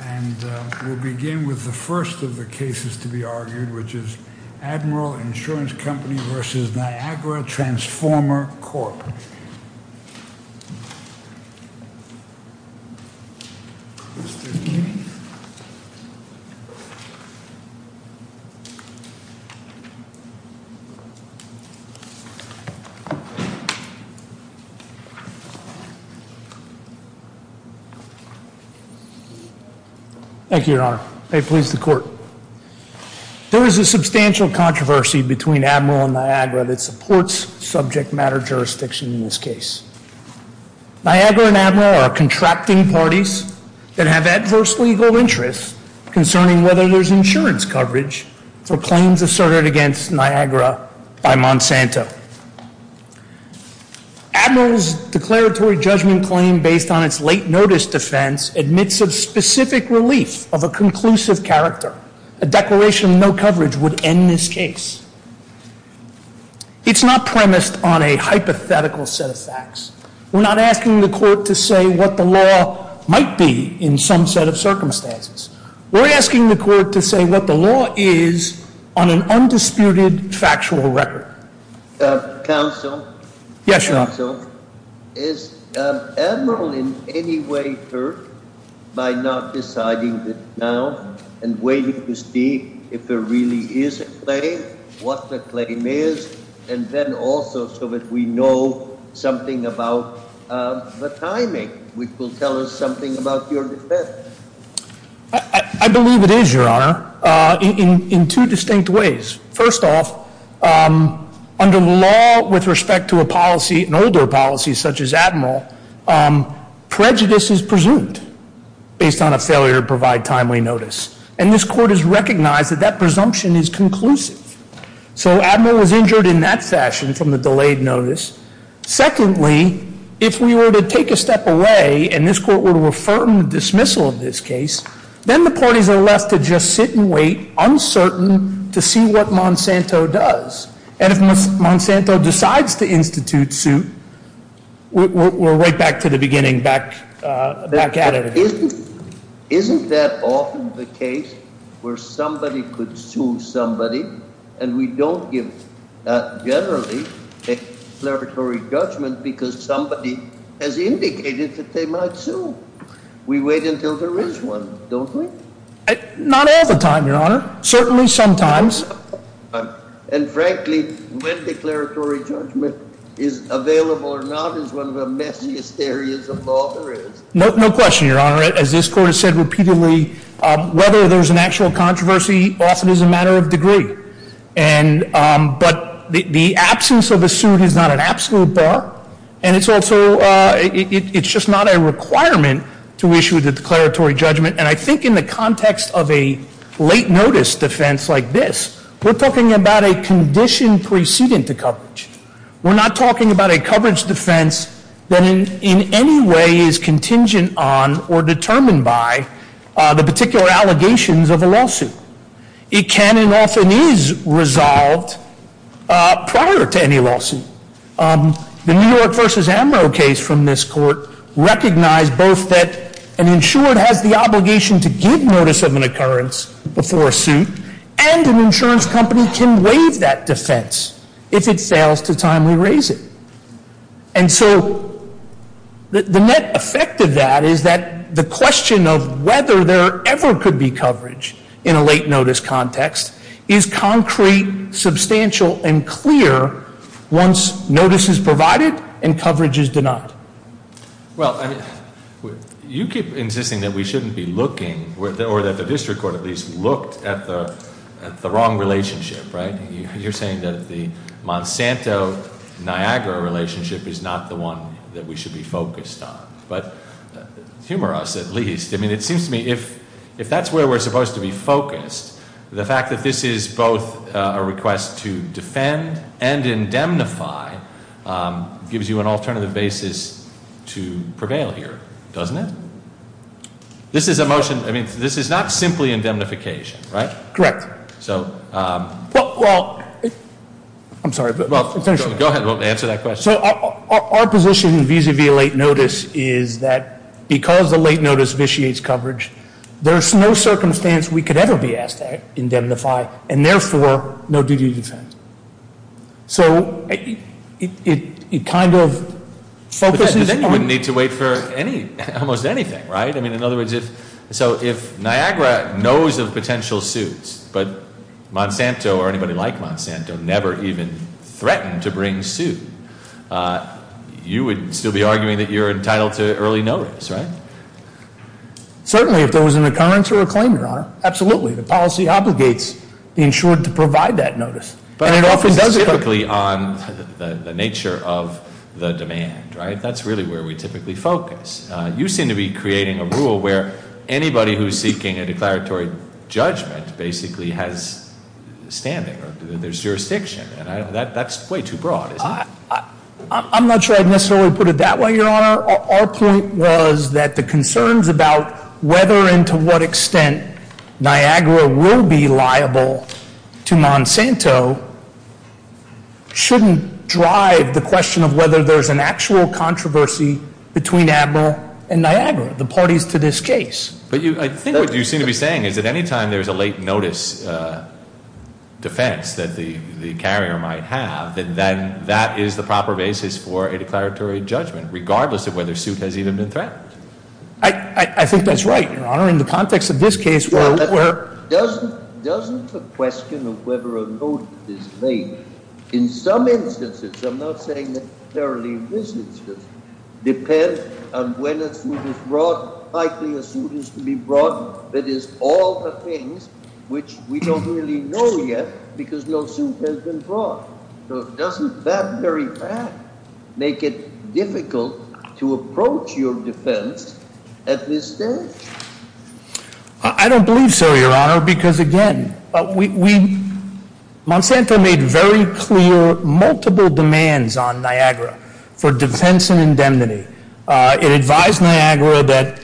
And we'll begin with the first of the cases to be argued, which is Admiral Insurance Company v. Niagara Transformer Corp. Thank you, Your Honor. May it please the Court. There is a substantial controversy between Admiral and Niagara that supports subject matter jurisdiction in this case. Niagara and Admiral are contracting parties that have adverse legal interests concerning whether there's insurance coverage for claims asserted against Niagara by Monsanto. Admiral's declaratory judgment claim based on its late notice defense admits of specific relief of a conclusive character. A declaration of no coverage would end this case. It's not premised on a hypothetical set of facts. We're not asking the Court to say what the law might be in some set of circumstances. We're asking the Court to say what the law is on an undisputed factual record. Counsel? Yes, Your Honor. Is Admiral in any way hurt by not deciding this now and waiting to see if there really is a claim, what the claim is, and then also so that we know something about the timing, which will tell us something about your defense? I believe it is, Your Honor, in two distinct ways. First off, under the law with respect to a policy, an older policy such as Admiral, prejudice is presumed based on a failure to provide timely notice. And this Court has recognized that that presumption is conclusive. So Admiral was injured in that fashion from the delayed notice. Secondly, if we were to take a step away and this Court were to affirm the dismissal of this case, then the parties are left to just sit and wait, uncertain, to see what Monsanto does. And if Monsanto decides to institute suit, we're right back to the beginning, back at it again. Isn't that often the case where somebody could sue somebody and we don't give, generally, a declaratory judgment because somebody has indicated that they might sue? We wait until there is one, don't we? Not all the time, Your Honor. Certainly sometimes. And frankly, when declaratory judgment is available or not is one of the messiest areas of law there is. No question, Your Honor. As this Court has said repeatedly, whether there is an actual controversy often is a matter of degree. But the absence of a suit is not an absolute bar. And it's also, it's just not a requirement to issue the declaratory judgment. And I think in the context of a late notice defense like this, we're talking about a condition precedent to coverage. We're not talking about a coverage defense that in any way is contingent on or determined by the particular allegations of a lawsuit. It can and often is resolved prior to any lawsuit. The New York v. Ambrose case from this Court recognized both that an insured has the obligation to give notice of an occurrence before a suit, and an insurance company can waive that defense if it fails to timely raise it. And so the net effect of that is that the question of whether there ever could be coverage in a late notice context is concrete, substantial, and clear once notice is provided and coverage is denied. Well, you keep insisting that we shouldn't be looking, or that the district court at least, looked at the wrong relationship, right? You're saying that the Monsanto Niagara relationship is not the one that we should be focused on. But humor us at least. I mean, it seems to me if that's where we're supposed to be focused, the fact that this is both a request to defend and indemnify gives you an alternative basis to prevail here, doesn't it? This is a motion, I mean, this is not simply indemnification, right? Correct. Well, I'm sorry. Go ahead, answer that question. So our position vis-a-vis late notice is that because the late notice vitiates coverage, there's no circumstance we could ever be asked to indemnify, and therefore, no duty to defend. So it kind of focuses on- But then you wouldn't need to wait for almost anything, right? I mean, in other words, if Niagara knows of potential suits, but Monsanto or anybody like Monsanto never even threatened to bring suit, you would still be arguing that you're entitled to early notice, right? Certainly, if there was an occurrence or a claim, Your Honor. Absolutely. The policy obligates the insured to provide that notice. But it often does- But it's typically on the nature of the demand, right? That's really where we typically focus. You seem to be creating a rule where anybody who's seeking a declaratory judgment basically has standing, or there's jurisdiction, and that's way too broad, isn't it? I'm not sure I'd necessarily put it that way, Your Honor. Our point was that the concerns about whether and to what extent Niagara will be liable to Monsanto shouldn't drive the question of whether there's an actual controversy between Admiral and Niagara, the parties to this case. But I think what you seem to be saying is that any time there's a late notice defense that the carrier might have, then that is the proper basis for a declaratory judgment, regardless of whether suit has even been threatened. I think that's right, Your Honor, in the context of this case where- Doesn't the question of whether a notice is made, in some instances- I'm not saying necessarily in this instance- depend on when a suit is brought, likely a suit is to be brought, that is, all the things which we don't really know yet because no suit has been brought. So doesn't that very fact make it difficult to approach your defense at this stage? I don't believe so, Your Honor, because again, Monsanto made very clear multiple demands on Niagara for defense and indemnity. It advised Niagara that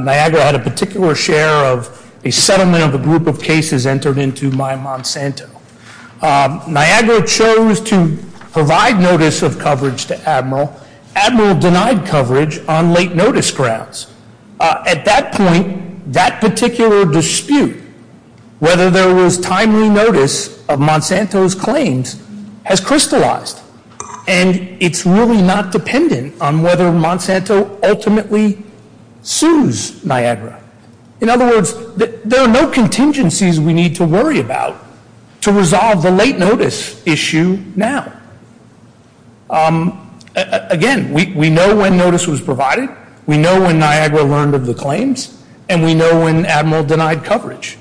Niagara had a particular share of a settlement of a group of cases entered into by Monsanto. Niagara chose to provide notice of coverage to Admiral. Admiral denied coverage on late notice grounds. At that point, that particular dispute, whether there was timely notice of Monsanto's claims, has crystallized. And it's really not dependent on whether Monsanto ultimately sues Niagara. In other words, there are no contingencies we need to worry about to resolve the late notice issue now. Again, we know when notice was provided. We know when Niagara learned of the claims. And we know when Admiral denied coverage.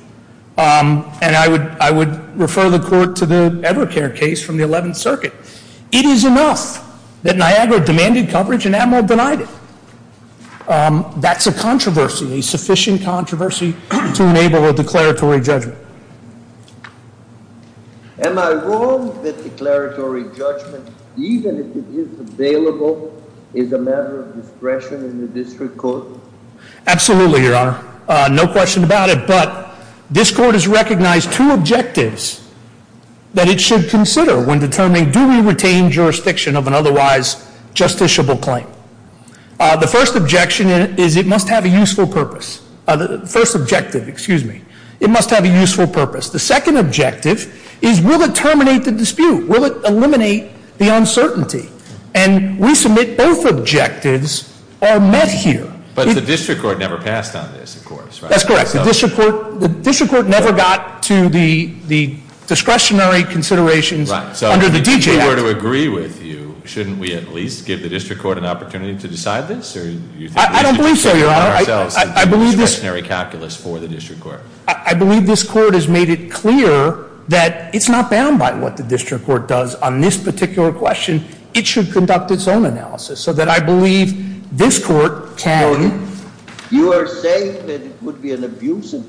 And I would refer the Court to the Evercare case from the 11th Circuit. It is enough that Niagara demanded coverage and Admiral denied it. That's a controversy, a sufficient controversy to enable a declaratory judgment. Am I wrong that declaratory judgment, even if it is available, is a matter of discretion in the district court? Absolutely, Your Honor. No question about it. But this Court has recognized two objectives that it should consider when determining do we retain jurisdiction of an otherwise justiciable claim. The first objection is it must have a useful purpose. The first objective, excuse me. It must have a useful purpose. The second objective is will it terminate the dispute? Will it eliminate the uncertainty? And we submit both objectives are met here. But the district court never passed on this, of course, right? That's correct. The district court never got to the discretionary considerations under the DJ Act. If I were to agree with you, shouldn't we at least give the district court an opportunity to decide this? I don't believe so, Your Honor. I believe this- The discretionary calculus for the district court. I believe this Court has made it clear that it's not bound by what the district court does on this particular question. It should conduct its own analysis so that I believe this Court can- The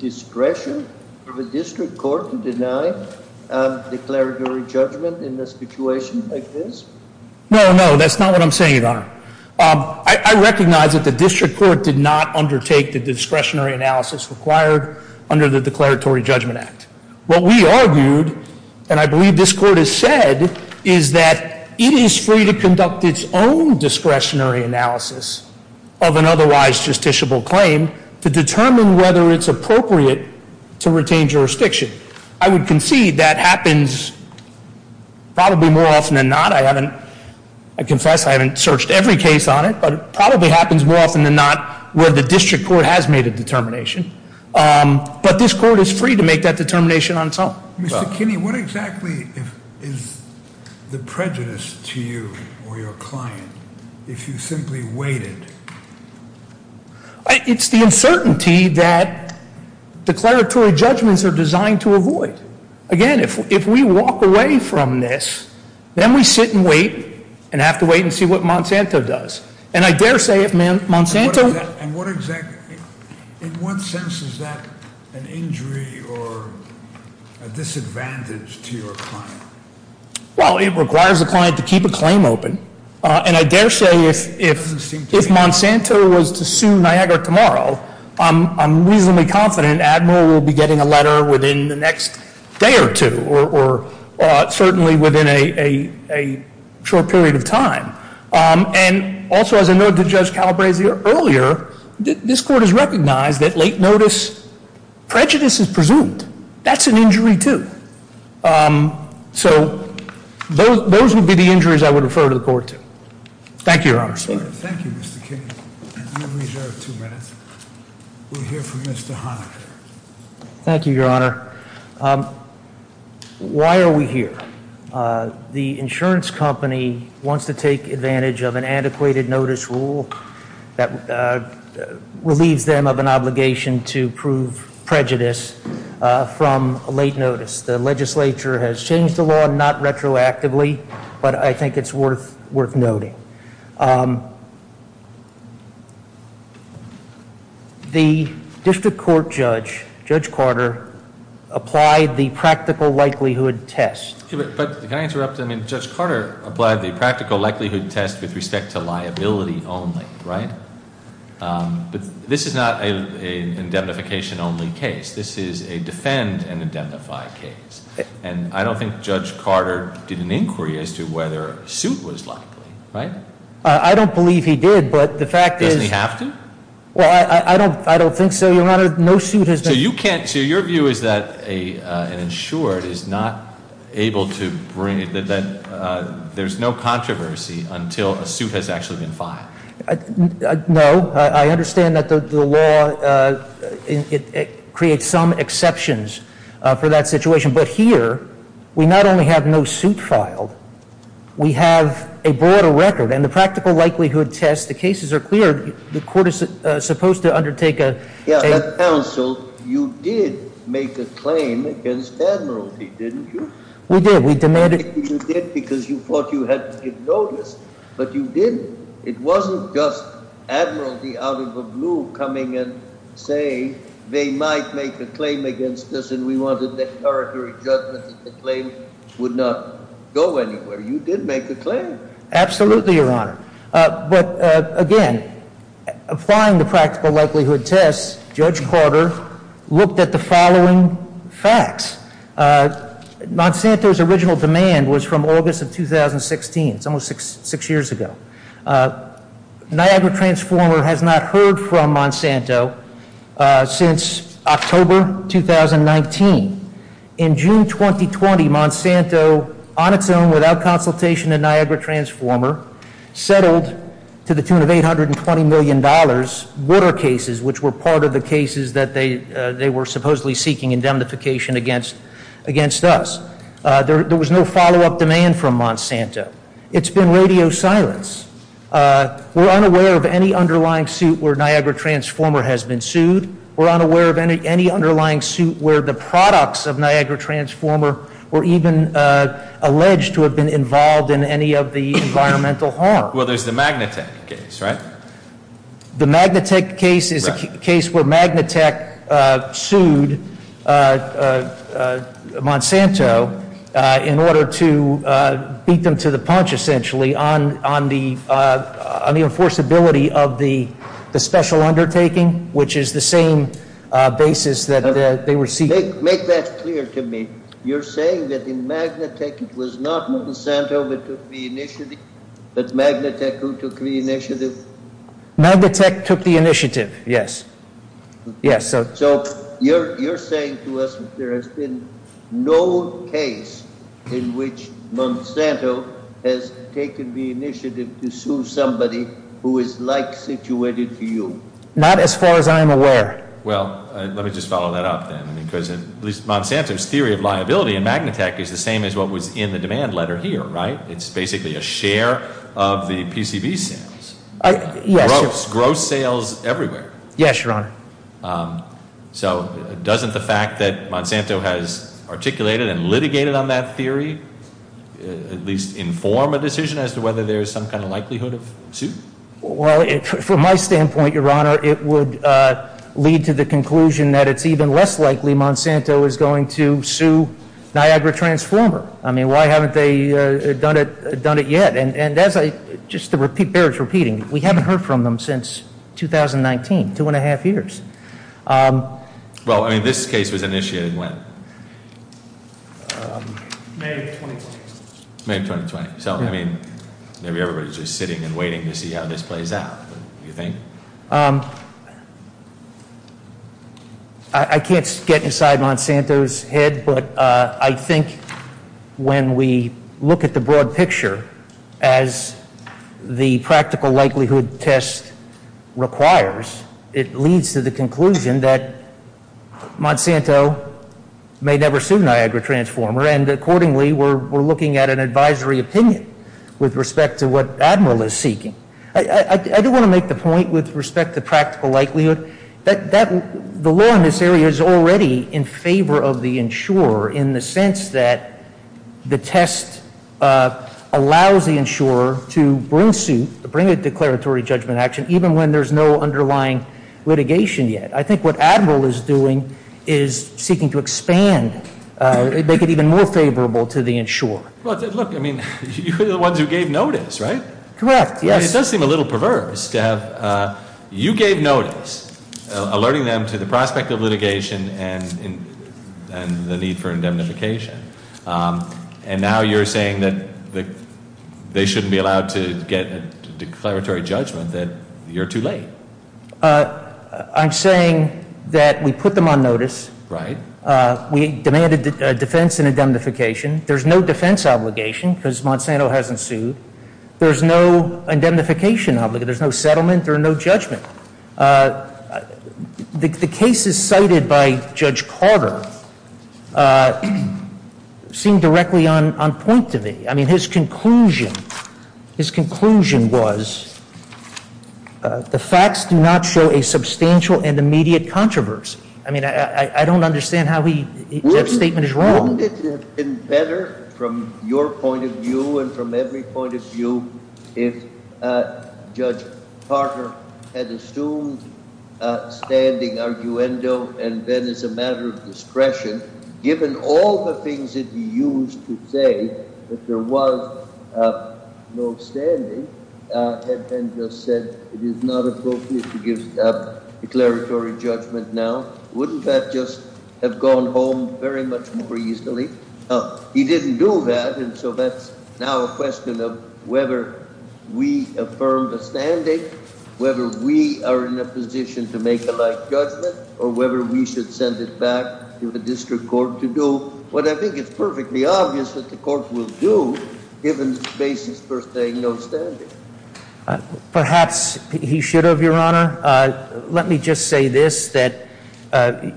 discretion of the district court to deny declaratory judgment in a situation like this? No, no. That's not what I'm saying, Your Honor. I recognize that the district court did not undertake the discretionary analysis required under the Declaratory Judgment Act. What we argued, and I believe this Court has said, is that it is free to conduct its own discretionary analysis of an otherwise justiciable claim to determine whether it's appropriate to retain jurisdiction. I would concede that happens probably more often than not. I haven't- I confess I haven't searched every case on it, but it probably happens more often than not where the district court has made a determination. But this court is free to make that determination on its own. Mr. Kinney, what exactly is the prejudice to you or your client if you simply waited? It's the uncertainty that declaratory judgments are designed to avoid. Again, if we walk away from this, then we sit and wait and have to wait and see what Monsanto does. And I dare say if Monsanto- And what exactly- in what sense is that an injury or a disadvantage to your client? Well, it requires the client to keep a claim open. And I dare say if Monsanto was to sue Niagara tomorrow, I'm reasonably confident Admiral will be getting a letter within the next day or two, or certainly within a short period of time. And also, as I noted to Judge Calabrese earlier, this court has recognized that late notice prejudice is presumed. That's an injury too. So, those would be the injuries I would refer to the court to. Thank you, Your Honor. Thank you, Mr. Kinney. I'm going to reserve two minutes. We'll hear from Mr. Holland. Thank you, Your Honor. Why are we here? The insurance company wants to take advantage of an antiquated notice rule that relieves them of an obligation to prove prejudice from late notice. The legislature has changed the law, not retroactively, but I think it's worth noting. The district court judge, Judge Carter, applied the practical likelihood test. Excuse me, but can I interrupt? I mean, Judge Carter applied the practical likelihood test with respect to liability only, right? But this is not an indemnification only case. This is a defend and indemnify case. And I don't think Judge Carter did an inquiry as to whether a suit was likely, right? I don't believe he did, but the fact is- Doesn't he have to? Well, I don't think so, Your Honor. No suit has been- So, your view is that an insured is not able to bring, that there's no controversy until a suit has actually been filed. No. I understand that the law creates some exceptions for that situation. But here, we not only have no suit filed, we have a broader record. And the practical likelihood test, the cases are clear. The court is supposed to undertake a- Yeah, at counsel, you did make a claim against admiralty, didn't you? We did. We demanded- You did because you thought you had to give notice, but you didn't. It wasn't just admiralty out of the blue coming and saying they might make a claim against us, and we wanted that territory judgment that the claim would not go anywhere. You did make a claim. Absolutely, Your Honor. But, again, applying the practical likelihood test, Judge Carter looked at the following facts. Monsanto's original demand was from August of 2016. It's almost six years ago. Niagara Transformer has not heard from Monsanto since October 2019. In June 2020, Monsanto, on its own, without consultation with Niagara Transformer, settled to the tune of $820 million border cases, which were part of the cases that they were supposedly seeking indemnification against us. There was no follow-up demand from Monsanto. It's been radio silence. We're unaware of any underlying suit where Niagara Transformer has been sued. We're unaware of any underlying suit where the products of Niagara Transformer were even alleged to have been involved in any of the environmental harm. Well, there's the Magnatech case, right? The Magnatech case is a case where Magnatech sued Monsanto in order to beat them to the punch, essentially, on the enforceability of the special undertaking, which is the same basis that they were seeking. Make that clear to me. You're saying that in Magnatech it was not Monsanto that took the initiative, but Magnatech who took the initiative? Magnatech took the initiative, yes. So you're saying to us that there has been no case in which Monsanto has taken the initiative to sue somebody who is like-situated to you? Not as far as I'm aware. Well, let me just follow that up, then, because at least Monsanto's theory of liability in Magnatech is the same as what was in the demand letter here, right? It's basically a share of the PCB sales. Yes. Gross sales everywhere. Yes, Your Honor. So doesn't the fact that Monsanto has articulated and litigated on that theory at least inform a decision as to whether there is some kind of likelihood of suit? Well, from my standpoint, Your Honor, it would lead to the conclusion that it's even less likely Monsanto is going to sue Niagara Transformer. I mean, why haven't they done it yet? And just to bear repeating, we haven't heard from them since 2019, two and a half years. Well, I mean, this case was initiated when? May of 2020. May of 2020. So, I mean, maybe everybody's just sitting and waiting to see how this plays out, don't you think? I can't get inside Monsanto's head, but I think when we look at the broad picture as the practical likelihood test requires, it leads to the conclusion that Monsanto may never sue Niagara Transformer. And accordingly, we're looking at an advisory opinion with respect to what Admiral is seeking. I do want to make the point with respect to practical likelihood that the law in this area is already in favor of the insurer in the sense that the test allows the insurer to bring suit, to bring a declaratory judgment action, even when there's no underlying litigation yet. I think what Admiral is doing is seeking to expand, make it even more favorable to the insurer. Look, I mean, you're the ones who gave notice, right? Correct, yes. It does seem a little perverse to have you gave notice alerting them to the prospect of litigation and the need for indemnification. And now you're saying that they shouldn't be allowed to get a declaratory judgment, that you're too late. I'm saying that we put them on notice. Right. We demanded defense and indemnification. There's no defense obligation because Monsanto hasn't sued. There's no indemnification obligation. There's no settlement or no judgment. The cases cited by Judge Carter seem directly on point to me. I mean, his conclusion, his conclusion was the facts do not show a substantial and immediate controversy. I mean, I don't understand how his statement is wrong. Wouldn't it have been better from your point of view and from every point of view if Judge Carter had assumed standing arguendo and then as a matter of discretion, given all the things that he used to say that there was no standing and just said it is not appropriate to give a declaratory judgment now? Wouldn't that just have gone home very much more easily? He didn't do that, and so that's now a question of whether we affirm the standing, whether we are in a position to make a light judgment, or whether we should send it back to the district court to do what I think is perfectly obvious that the court will do given the basis for saying no standing. Perhaps he should have, Your Honor. Let me just say this, that,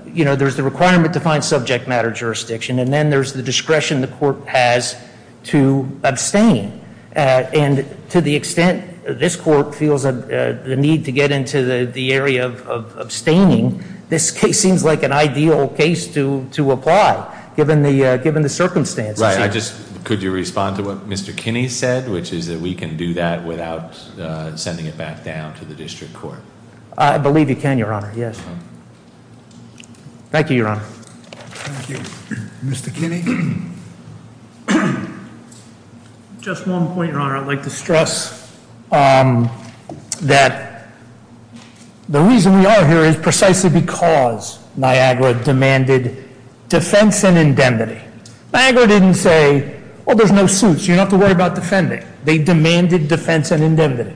you know, there's the requirement to find subject matter jurisdiction, and then there's the discretion the court has to abstain, and to the extent this court feels the need to get into the area of abstaining, this case seems like an ideal case to apply given the circumstances. Right, I just, could you respond to what Mr. Kinney said, which is that we can do that without sending it back down to the district court? I believe you can, Your Honor, yes. Thank you, Your Honor. Thank you. Mr. Kinney? Just one point, Your Honor, I'd like to stress that the reason we are here is precisely because Niagara demanded defense and indemnity. Niagara didn't say, well, there's no suits, you don't have to worry about defending. They demanded defense and indemnity.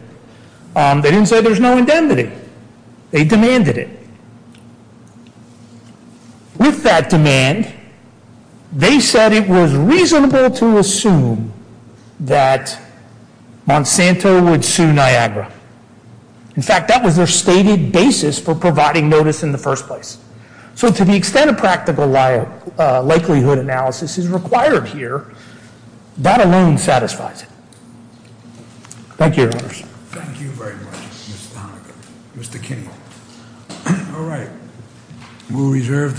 They didn't say there's no indemnity. They demanded it. With that demand, they said it was reasonable to assume that Monsanto would sue Niagara. In fact, that was their stated basis for providing notice in the first place. So to the extent a practical likelihood analysis is required here, that alone satisfies it. Thank you, Your Honors. Thank you very much, Mr. Honaker. Mr. Kinney? All right. We'll reserve the stage.